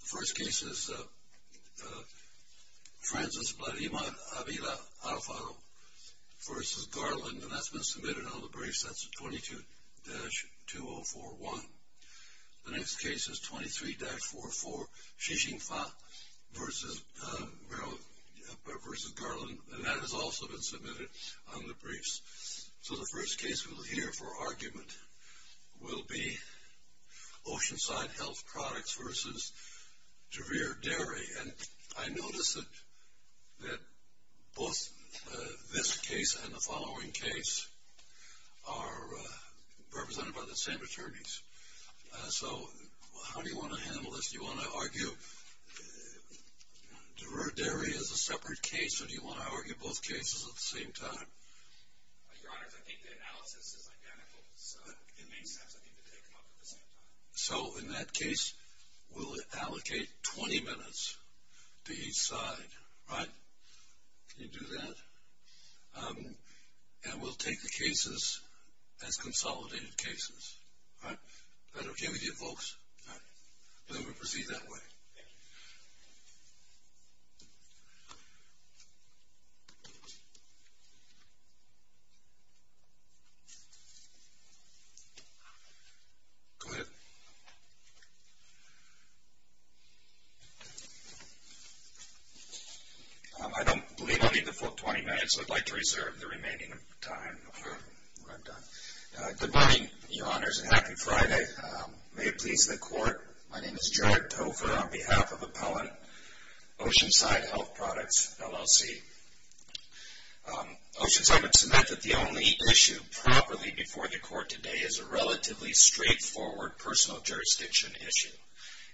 The first case is Francis Bladimar Avila Alfaro v. Garland, and that's been submitted on the briefs. That's 22-2041. The next case is 23-44 Xixing Fa v. Garland, and that has also been submitted on the briefs. So the first case we'll hear for argument will be Oceanside Health Products v. DVIR DERI. And I notice that both this case and the following case are represented by the same attorneys. So how do you want to handle this? Do you want to argue DVIR DERI as a separate case, or do you want to argue both cases at the same time? Your Honors, I think the analysis is identical, so it makes sense, I think, to take them up at the same time. So in that case, we'll allocate 20 minutes to each side, right? Can you do that? And we'll take the cases as consolidated cases, all right? Is that okay with you folks? All right. So we'll proceed that way. Go ahead. I don't believe I need the full 20 minutes. I'd like to reserve the remaining time for when I'm done. Good morning, Your Honors, and happy Friday. May it please the Court, my name is Jared Tofer on behalf of Appellant Oceanside Health Products, LLC. Oceanside would submit that the only issue properly before the Court today is a relatively straightforward personal jurisdiction issue.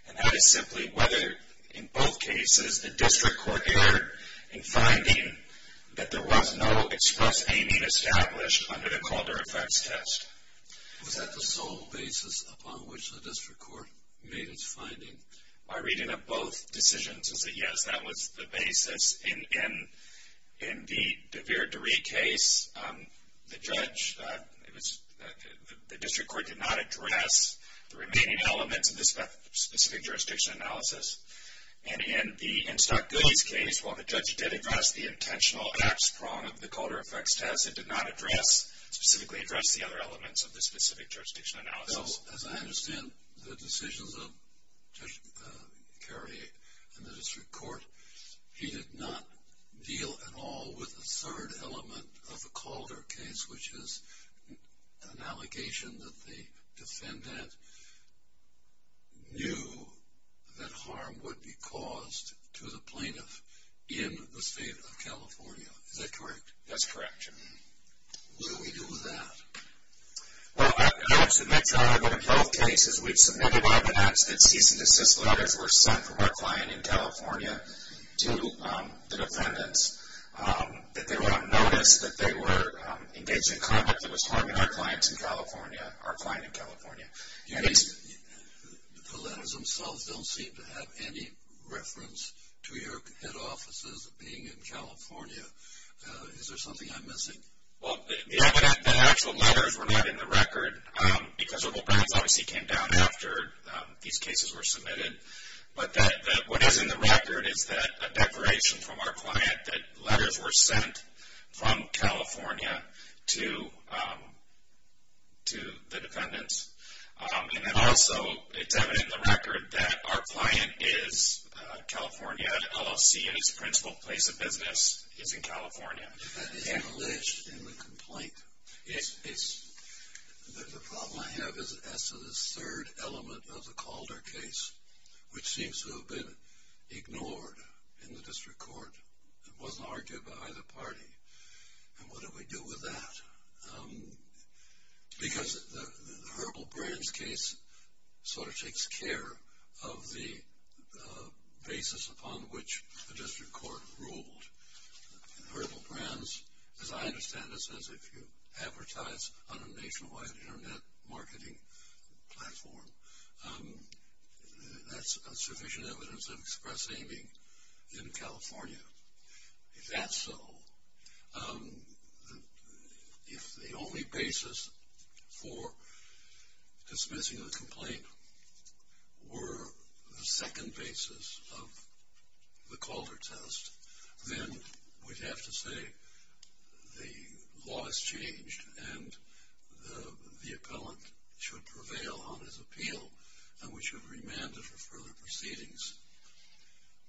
And that is simply whether, in both cases, the District Court erred in finding that there was no express aiming established under the Calder Effects Test. Was that the sole basis upon which the District Court made its finding? My reading of both decisions is that, yes, that was the basis. In the DeVere DeRee case, the District Court did not address the remaining elements of the specific jurisdiction analysis. And in Stock Goody's case, while the judge did address the intentional ax prong of the Calder Effects Test, it did not specifically address the other elements of the specific jurisdiction analysis. So, as I understand the decisions of Judge Carey and the District Court, he did not deal at all with the third element of the Calder case, which is an allegation that the defendant knew that harm would be caused to the plaintiff in the state of California. Is that correct? That's correct. What do we do with that? Well, I would submit, Your Honor, that in both cases we've submitted evidence that cease and desist letters were sent from our client in California to the defendants, that they were unnoticed, that they were engaged in conduct that was harming our client in California. The letters themselves don't seem to have any reference to your head offices being in California. Is there something I'm missing? Well, the evidence that actual letters were not in the record, because the legal brackets obviously came down after these cases were submitted, but what is in the record is that a declaration from our client that letters were sent from California to the defendants. And then also, it's evident in the record that our client is California LLC, and his principal place of business is in California. That is alleged in the complaint. The problem I have is as to the third element of the Calder case, which seems to have been ignored in the district court, and wasn't argued by either party, and what do we do with that? Because the Herbal Brands case sort of takes care of the basis upon which the district court ruled. Herbal Brands, as I understand it, says if you advertise on a nationwide internet marketing platform, that's sufficient evidence of express aiming in California. If that's so, if the only basis for dismissing the complaint were the second basis of the Calder test, then we'd have to say the law has changed, and the appellant should prevail on his appeal, and we should remand it for further proceedings.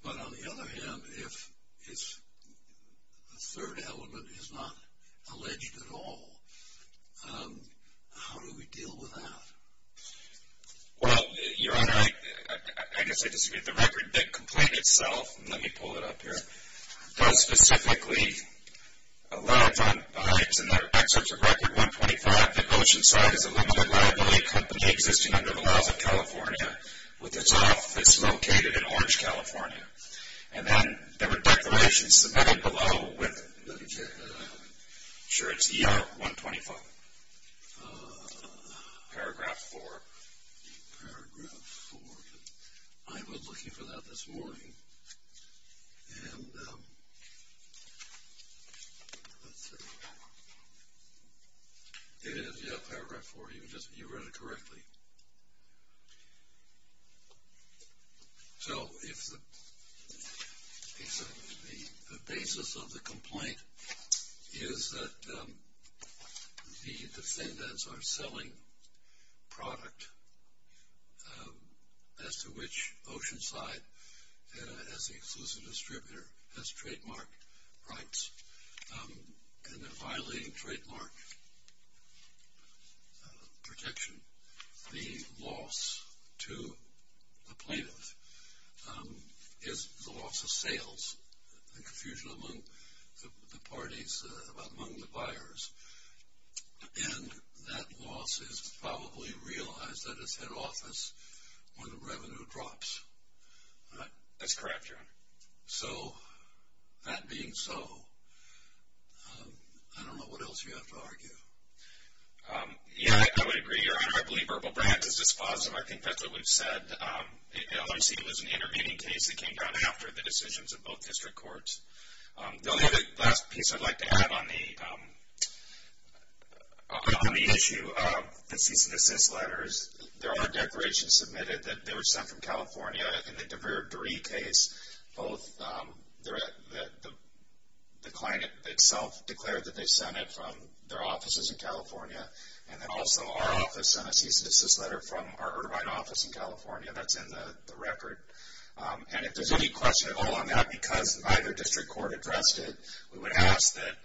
But on the other hand, if the third element is not alleged at all, how do we deal with that? Well, Your Honor, I guess I disagree. The record that complained itself, let me pull it up here, does specifically allege, in the excerpts of Record 125, that Oceanside is a limited liability company existing under the laws of California, with its office located in Orange, California. And then there were declarations submitted below with, I'm sure it's ER 125, Paragraph 4. Paragraph 4, I was looking for that this morning, and let's see. It is, yeah, Paragraph 4. You read it correctly. So if the basis of the complaint is that the defendants are selling product as to which Oceanside, as the exclusive distributor, has trademark rights, and they're violating trademark protection, the loss to the plaintiff is the loss of sales, the confusion among the parties, among the buyers. And that loss is probably realized at its head office when the revenue drops. That's correct, Your Honor. So that being so, I don't know what else you have to argue. Yeah, I would agree, Your Honor. I believe Herbal Brands is dispositive. I think that's what we've said. Obviously, it was an intervening case that came down after the decisions of both district courts. The only other last piece I'd like to add on the issue of the cease and desist letters, is there are declarations submitted that they were sent from California in the DeVere Dury case. Both the client itself declared that they sent it from their offices in California, and then also our office sent a cease and desist letter from our Irvine office in California. That's in the record. And if there's any question at all on that because neither district court addressed it, we would ask that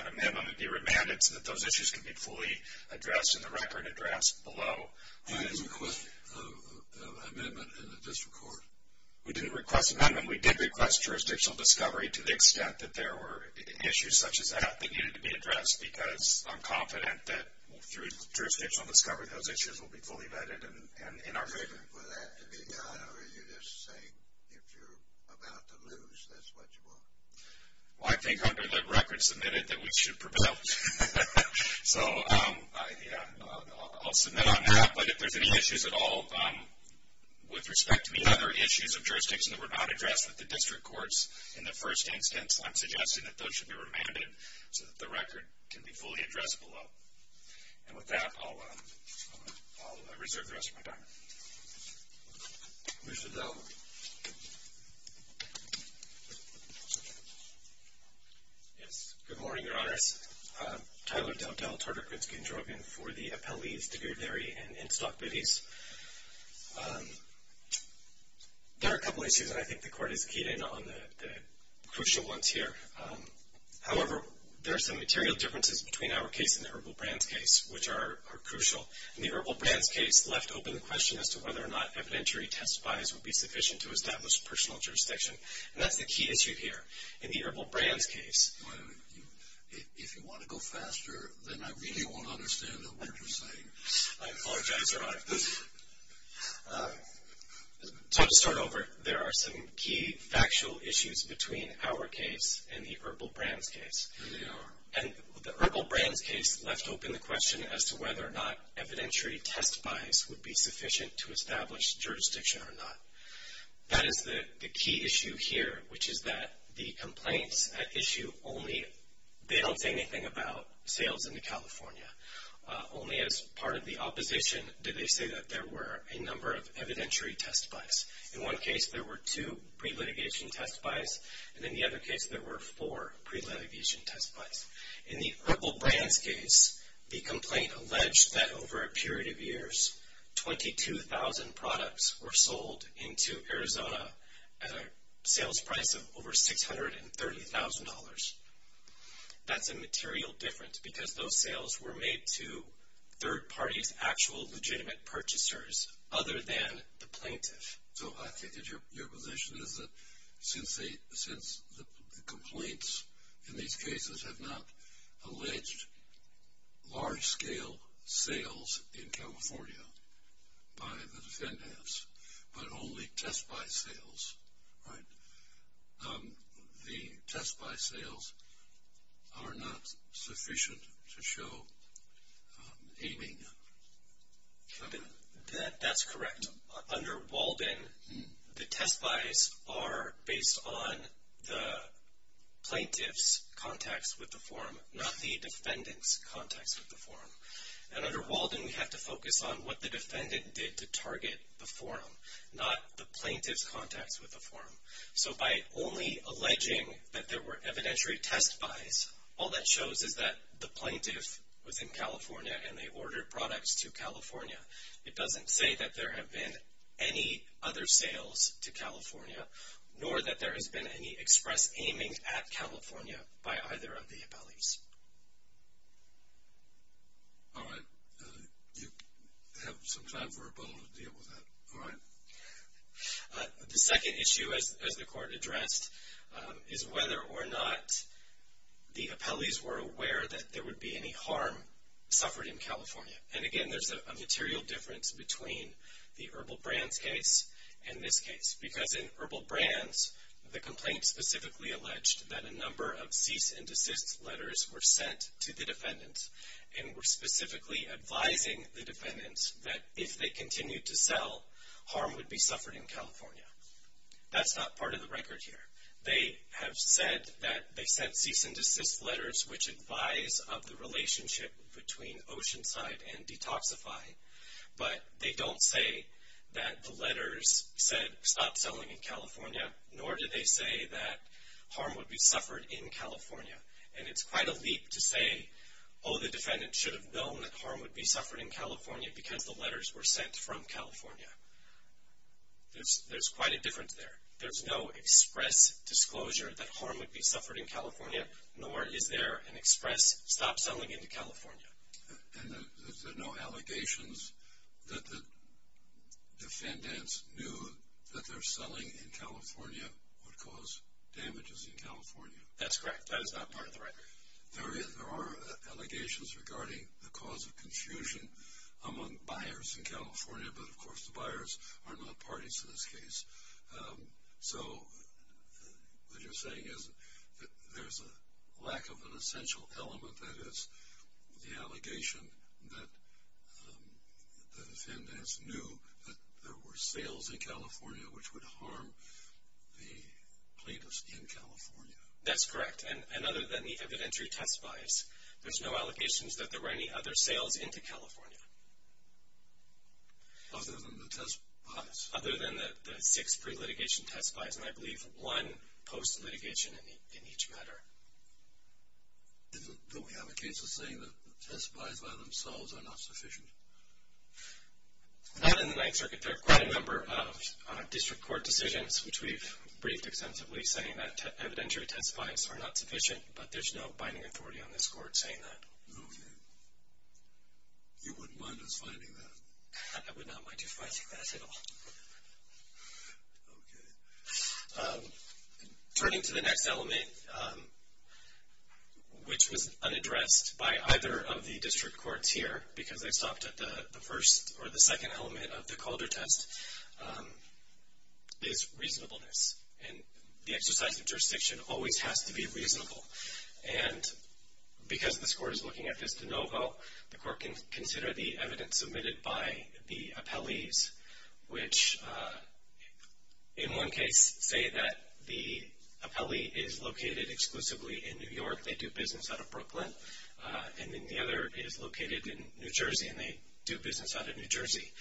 an amendment be remanded so that those issues can be fully addressed in the record addressed below. You didn't request an amendment in the district court? We didn't request an amendment. We did request jurisdictional discovery to the extent that there were issues such as that that needed to be addressed because I'm confident that through jurisdictional discovery, those issues will be fully vetted and in our favor. For that to be done, are you just saying if you're about to lose, that's what you want? Well, I think under the record submitted that we should prevail. So, yeah, I'll submit on that. But if there's any issues at all with respect to any other issues of jurisdiction that were not addressed with the district courts in the first instance, I'm suggesting that those should be remanded so that the record can be fully addressed below. And with that, I'll reserve the rest of my time. Commissioner Dell. Yes. Good morning, Your Honors. Tyler Dell, Dell, Tartar, Gritsky, and Drogon for the Appellees, Devere Dairy, and In-Stock Biddies. There are a couple of issues that I think the court has keyed in on the crucial ones here. However, there are some material differences between our case and the Herbal Brands case, which are crucial. And the Herbal Brands case left open the question as to whether or not evidentiary testifies would be sufficient to establish personal jurisdiction. And that's the key issue here in the Herbal Brands case. If you want to go faster, then I really won't understand a word you're saying. I apologize, Your Honor. So to start over, there are some key factual issues between our case and the Herbal Brands case. There they are. And the Herbal Brands case left open the question as to whether or not evidentiary testifies would be sufficient to establish jurisdiction or not. That is the key issue here, which is that the complaints at issue only, they don't say anything about sales into California. Only as part of the opposition did they say that there were a number of evidentiary testifies. In one case, there were two pre-litigation testifies. And in the other case, there were four pre-litigation testifies. In the Herbal Brands case, the complaint alleged that over a period of years, 22,000 products were sold into Arizona at a sales price of over $630,000. That's a material difference because those sales were made to third parties, actual legitimate purchasers, other than the plaintiff. So I think that your position is that since the complaints in these cases have not alleged large-scale sales in California by the defendants, but only test-by sales, right? The test-by sales are not sufficient to show aiming. That's correct. Under Walden, the testifies are based on the plaintiff's contacts with the forum, not the defendant's contacts with the forum. And under Walden, we have to focus on what the defendant did to target the forum, not the plaintiff's contacts with the forum. So by only alleging that there were evidentiary test-bys, all that shows is that the plaintiff was in California and they ordered products to California. It doesn't say that there have been any other sales to California, nor that there has been any express aiming at California by either of the appellees. All right. You have some time for a moment to deal with that. All right. The second issue, as the court addressed, is whether or not the appellees were aware that there would be any harm suffered in California. And, again, there's a material difference between the Herbal Brands case and this case because in Herbal Brands, the complaint specifically alleged that a number of cease-and-desist letters were sent to the defendants and were specifically advising the defendants that if they continued to sell, harm would be suffered in California. That's not part of the record here. They have said that they sent cease-and-desist letters, which advise of the relationship between Oceanside and Detoxify, but they don't say that the letters said, stop selling in California, nor do they say that harm would be suffered in California. And it's quite a leap to say, oh, the defendant should have known that harm would be suffered in California because the letters were sent from California. There's quite a difference there. There's no express disclosure that harm would be suffered in California, nor is there an express stop selling into California. And there's no allegations that the defendants knew that their selling in California would cause damages in California. That's correct. That is not part of the record. There are allegations regarding the cause of confusion among buyers in California, but, of course, the buyers are not parties to this case. So what you're saying is that there's a lack of an essential element, that is the allegation that the defendants knew that there were sales in California which would harm the plaintiffs in California. That's correct. And other than the evidentiary test buys, there's no allegations that there were any other sales into California. Other than the test buys? Other than the six pre-litigation test buys, and I believe one post-litigation in each matter. Don't we have a case of saying that the test buys by themselves are not sufficient? Not in the Ninth Circuit. There are quite a number of district court decisions, which we've briefed extensively, saying that evidentiary test buys are not sufficient, but there's no binding authority on this court saying that. Okay. You wouldn't mind us finding that? I would not mind you finding that at all. Okay. Turning to the next element, which was unaddressed by either of the district courts here, because I stopped at the first or the second element of the Calder test, is reasonableness. And the exercise of jurisdiction always has to be reasonable. And because this court is looking at this de novo, the court can consider the evidence submitted by the appellees, which in one case say that the appellee is located exclusively in New York. They do business out of Brooklyn. And then the other is located in New Jersey, and they do business out of New Jersey.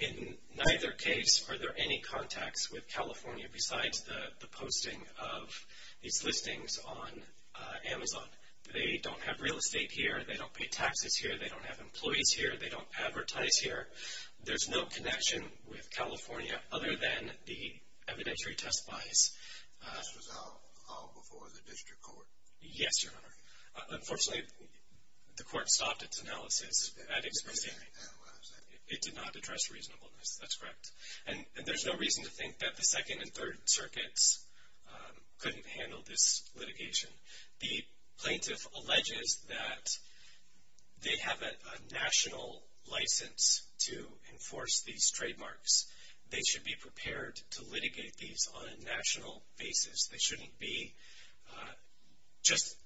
In neither case are there any contacts with California besides the posting of these listings on Amazon. They don't have real estate here. They don't pay taxes here. They don't have employees here. They don't advertise here. There's no connection with California other than the evidentiary test buys. This was all before the district court? Yes, Your Honor. Unfortunately, the court stopped its analysis at expressing it did not address reasonableness. That's correct. And there's no reason to think that the Second and Third Circuits couldn't handle this litigation. The plaintiff alleges that they have a national license to enforce these trademarks. They should be prepared to litigate these on a national basis. They shouldn't be just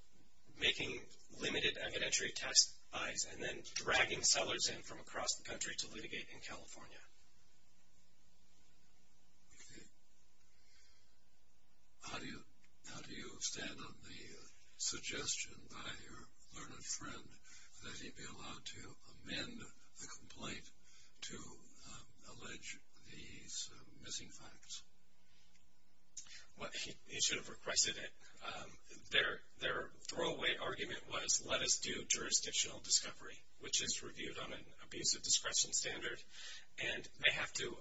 making limited evidentiary test buys and then dragging sellers in from across the country to litigate in California. How do you stand on the suggestion by your learned friend that he be allowed to amend the complaint to allege these missing facts? He should have requested it. Their throwaway argument was let us do jurisdictional discovery, which is reviewed on an abusive discretion standard, and they have to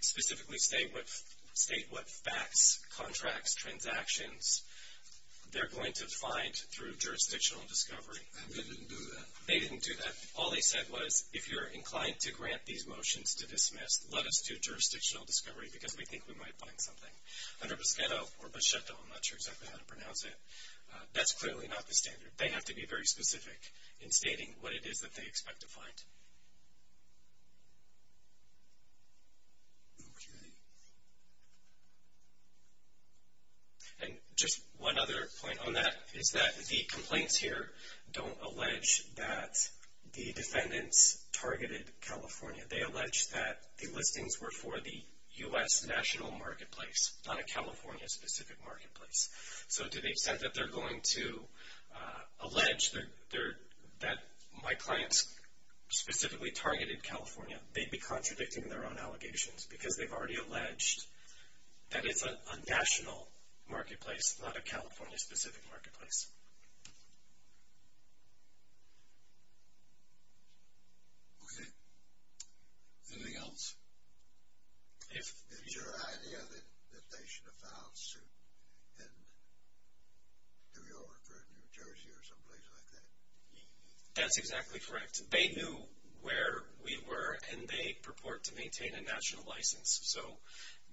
specifically state what facts, contracts, transactions, they're going to find through jurisdictional discovery. And they didn't do that? They didn't do that. All they said was if you're inclined to grant these motions to dismiss, let us do jurisdictional discovery because we think we might find something. Under Boschetto, or Boschetto, I'm not sure exactly how to pronounce it, that's clearly not the standard. They have to be very specific in stating what it is that they expect to find. Okay. And just one other point on that is that the complaints here don't allege that the defendants targeted California. They allege that the listings were for the U.S. national marketplace, not a California-specific marketplace. So to the extent that they're going to allege that my clients specifically targeted California, they'd be contradicting their own allegations because they've already alleged that it's a national marketplace, not a California-specific marketplace. Okay. Anything else? Is your idea that they should have found suit in New York or New Jersey or someplace like that? That's exactly correct. They knew where we were, and they purport to maintain a national license. So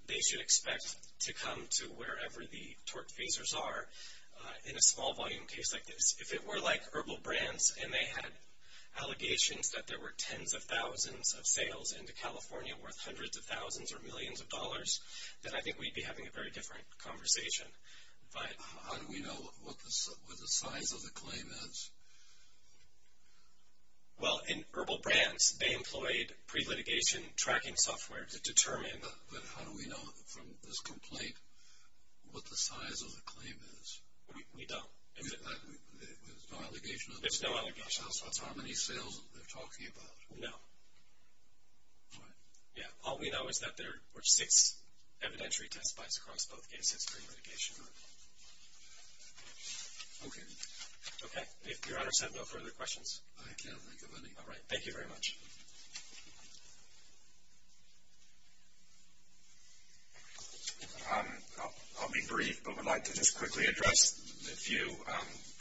they should expect to come to wherever the torque phasers are in a small-volume case like this. If it were like Herbal Brands and they had allegations that there were tens of thousands of sales into California worth hundreds of thousands or millions of dollars, then I think we'd be having a very different conversation. How do we know what the size of the claim is? Well, in Herbal Brands, they employed pre-litigation tracking software to determine. But how do we know from this complaint what the size of the claim is? We don't. There's no allegation? There's no allegation. So that's how many sales they're talking about? No. All right. Yeah, all we know is that there were six evidentiary test buys across both cases pre-litigation. Okay. Okay. If Your Honor has no further questions. I can't think of any. All right. Thank you very much. I'll be brief, but would like to just quickly address a few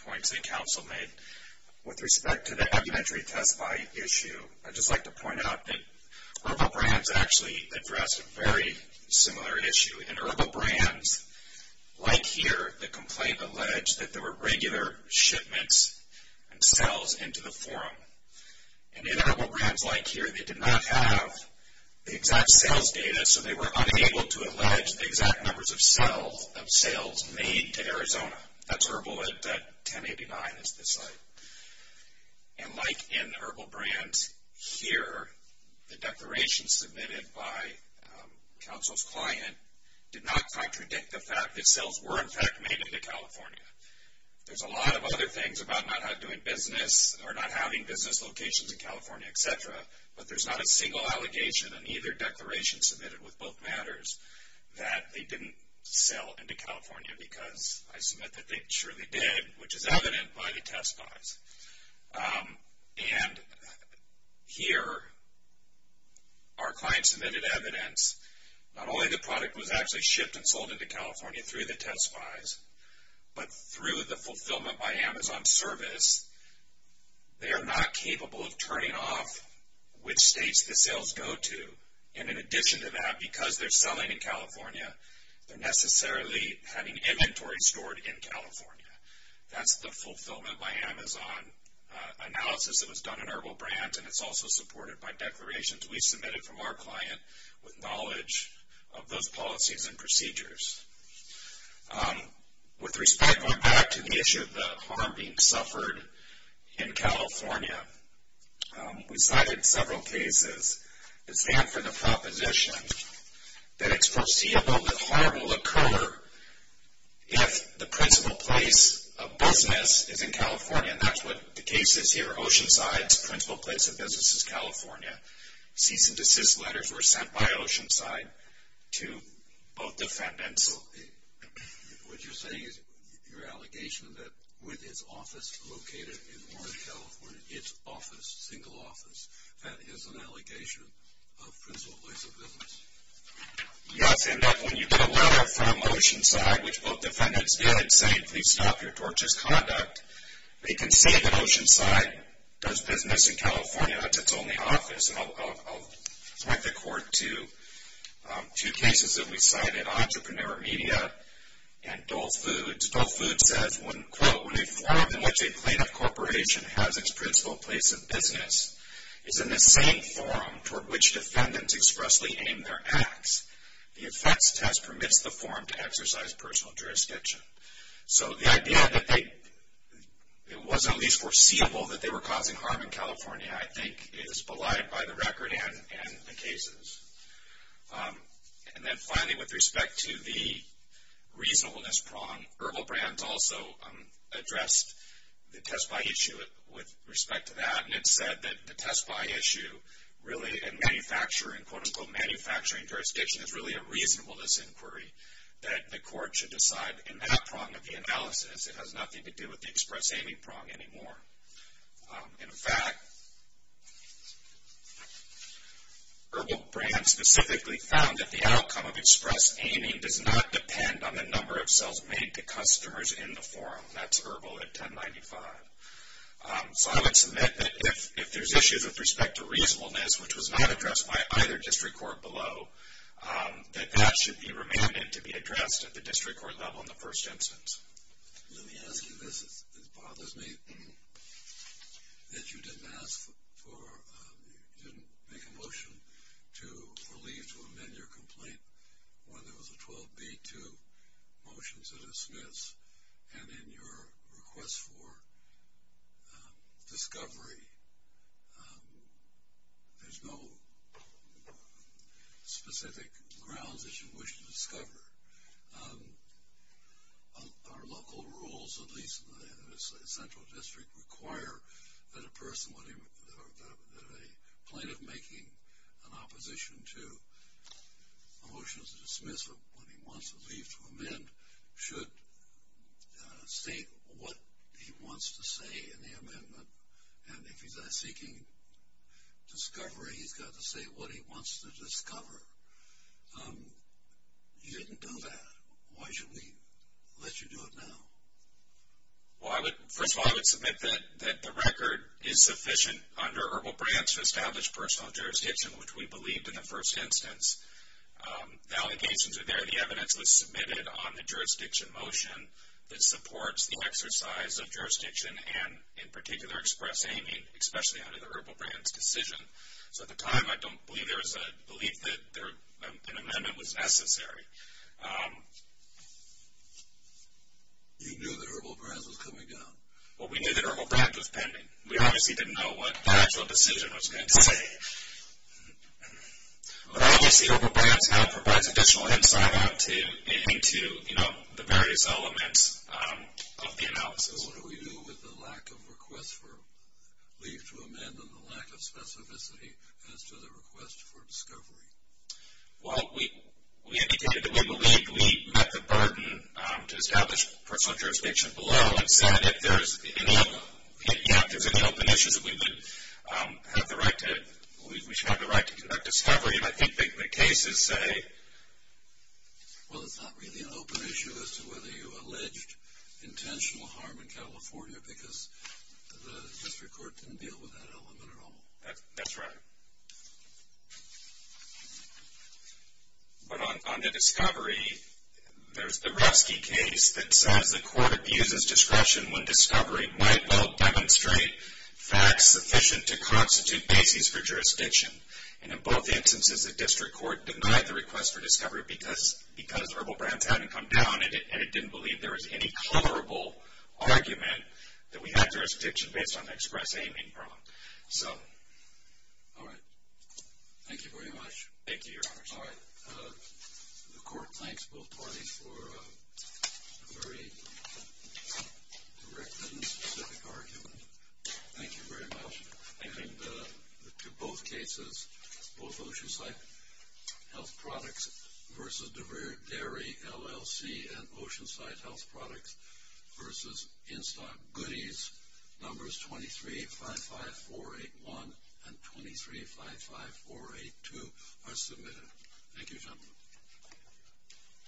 points that counsel made. With respect to the evidentiary test buy issue, I'd just like to point out that Herbal Brands actually addressed a very similar issue. In Herbal Brands, like here, the complaint alleged that there were regular shipments and sales into the forum. And in Herbal Brands, like here, they did not have the exact sales data, so they were unable to allege the exact numbers of sales made to Arizona. That's Herbal at 1089 is the site. And like in Herbal Brands here, the declaration submitted by counsel's client did not contradict the fact that sales were, in fact, made into California. There's a lot of other things about not doing business or not having business locations in California, et cetera, but there's not a single allegation on either declaration submitted with both matters that they didn't sell into California because I submit that they surely did, which is evident by the test buys. And here, our client submitted evidence. Not only the product was actually shipped and sold into California through the test buys, but through the fulfillment by Amazon service, they are not capable of turning off which states the sales go to. And in addition to that, because they're selling in California, they're necessarily having inventory stored in California. That's the fulfillment by Amazon analysis that was done in Herbal Brands, and it's also supported by declarations we submitted from our client with knowledge of those policies and procedures. With respect, going back to the issue of the harm being suffered in California, we cited several cases. It stands for the proposition that it's foreseeable that harm will occur if the principal place of business is in California. And that's what the case is here. Oceanside's principal place of business is California. Cease and desist letters were sent by Oceanside to both defendants. What you're saying is your allegation that with its office located in Orange, California, it's office, single office, that is an allegation of principal place of business. Yes, and that when you get a letter from Oceanside, which both defendants did, saying, please stop your torturous conduct, they can see that Oceanside does business in California. That's its only office. And I'll point the court to two cases that we cited, Entrepreneur Media and Dole Foods. Dole Foods says, quote, when a forum in which a plaintiff corporation has its principal place of business is in the same forum toward which defendants expressly aim their acts, the effects test permits the forum to exercise personal jurisdiction. So the idea that it was at least foreseeable that they were causing harm in California, I think, And then finally, with respect to the reasonableness prong, Herbal Brands also addressed the test by issue with respect to that, and it said that the test by issue really in manufacturing, quote, unquote, manufacturing jurisdiction is really a reasonableness inquiry that the court should decide in that prong of the analysis. It has nothing to do with the express aiming prong anymore. In fact, Herbal Brands specifically found that the outcome of express aiming does not depend on the number of sales made to customers in the forum. That's Herbal at 1095. So I would submit that if there's issues with respect to reasonableness, which was not addressed by either district court below, that that should be remanded to be addressed at the district court level in the first instance. Let me ask you this. It bothers me that you didn't make a motion to leave to amend your complaint when there was a 12b-2 motion to dismiss, and in your request for discovery, there's no specific grounds that you wish to discover. Our local rules, at least in the central district, require that a plaintiff making an opposition to a motion to dismiss when he wants to leave to amend should state what he wants to say in the amendment, and if he's seeking discovery, he's got to say what he wants to discover. You didn't do that. Why should we let you do it now? Well, first of all, I would submit that the record is sufficient under Herbal Brands to establish personal jurisdiction, which we believed in the first instance. The allegations are there. The evidence was submitted on the jurisdiction motion that supports the exercise of jurisdiction and, in particular, express aiming, especially under the Herbal Brands decision. So at the time, I don't believe there was a belief that an amendment was necessary. You knew that Herbal Brands was coming down. Well, we knew that Herbal Brands was pending. We obviously didn't know what the actual decision was going to say. But obviously, Herbal Brands now provides additional insight into the various elements of the analysis. So what do we do with the lack of request for leave to amend and the lack of specificity as to the request for discovery? Well, we indicated that we believed we met the burden to establish personal jurisdiction below and said if there's any open issues, we should have the right to conduct discovery. I think the cases say, well, it's not really an open issue as to whether you alleged intentional harm in California because the district court didn't deal with that element at all. That's right. But on the discovery, there's the Revsky case that says the court abuses discretion when discovery might well demonstrate facts sufficient to constitute basis for jurisdiction. And in both instances, the district court denied the request for discovery because Herbal Brands hadn't come down and it didn't believe there was any coverable argument that we had jurisdiction based on the express aim and prompt. All right. Thank you very much. Thank you, Your Honor. All right. The court thanks both parties for a very direct and specific argument. Thank you very much. Thank you. And to both cases, both Oceanside Health Products versus Dairy LLC and Oceanside Health Products versus In-Stock Goodies, numbers 23-55-481 and 23-55-482 are submitted. Thank you, gentlemen.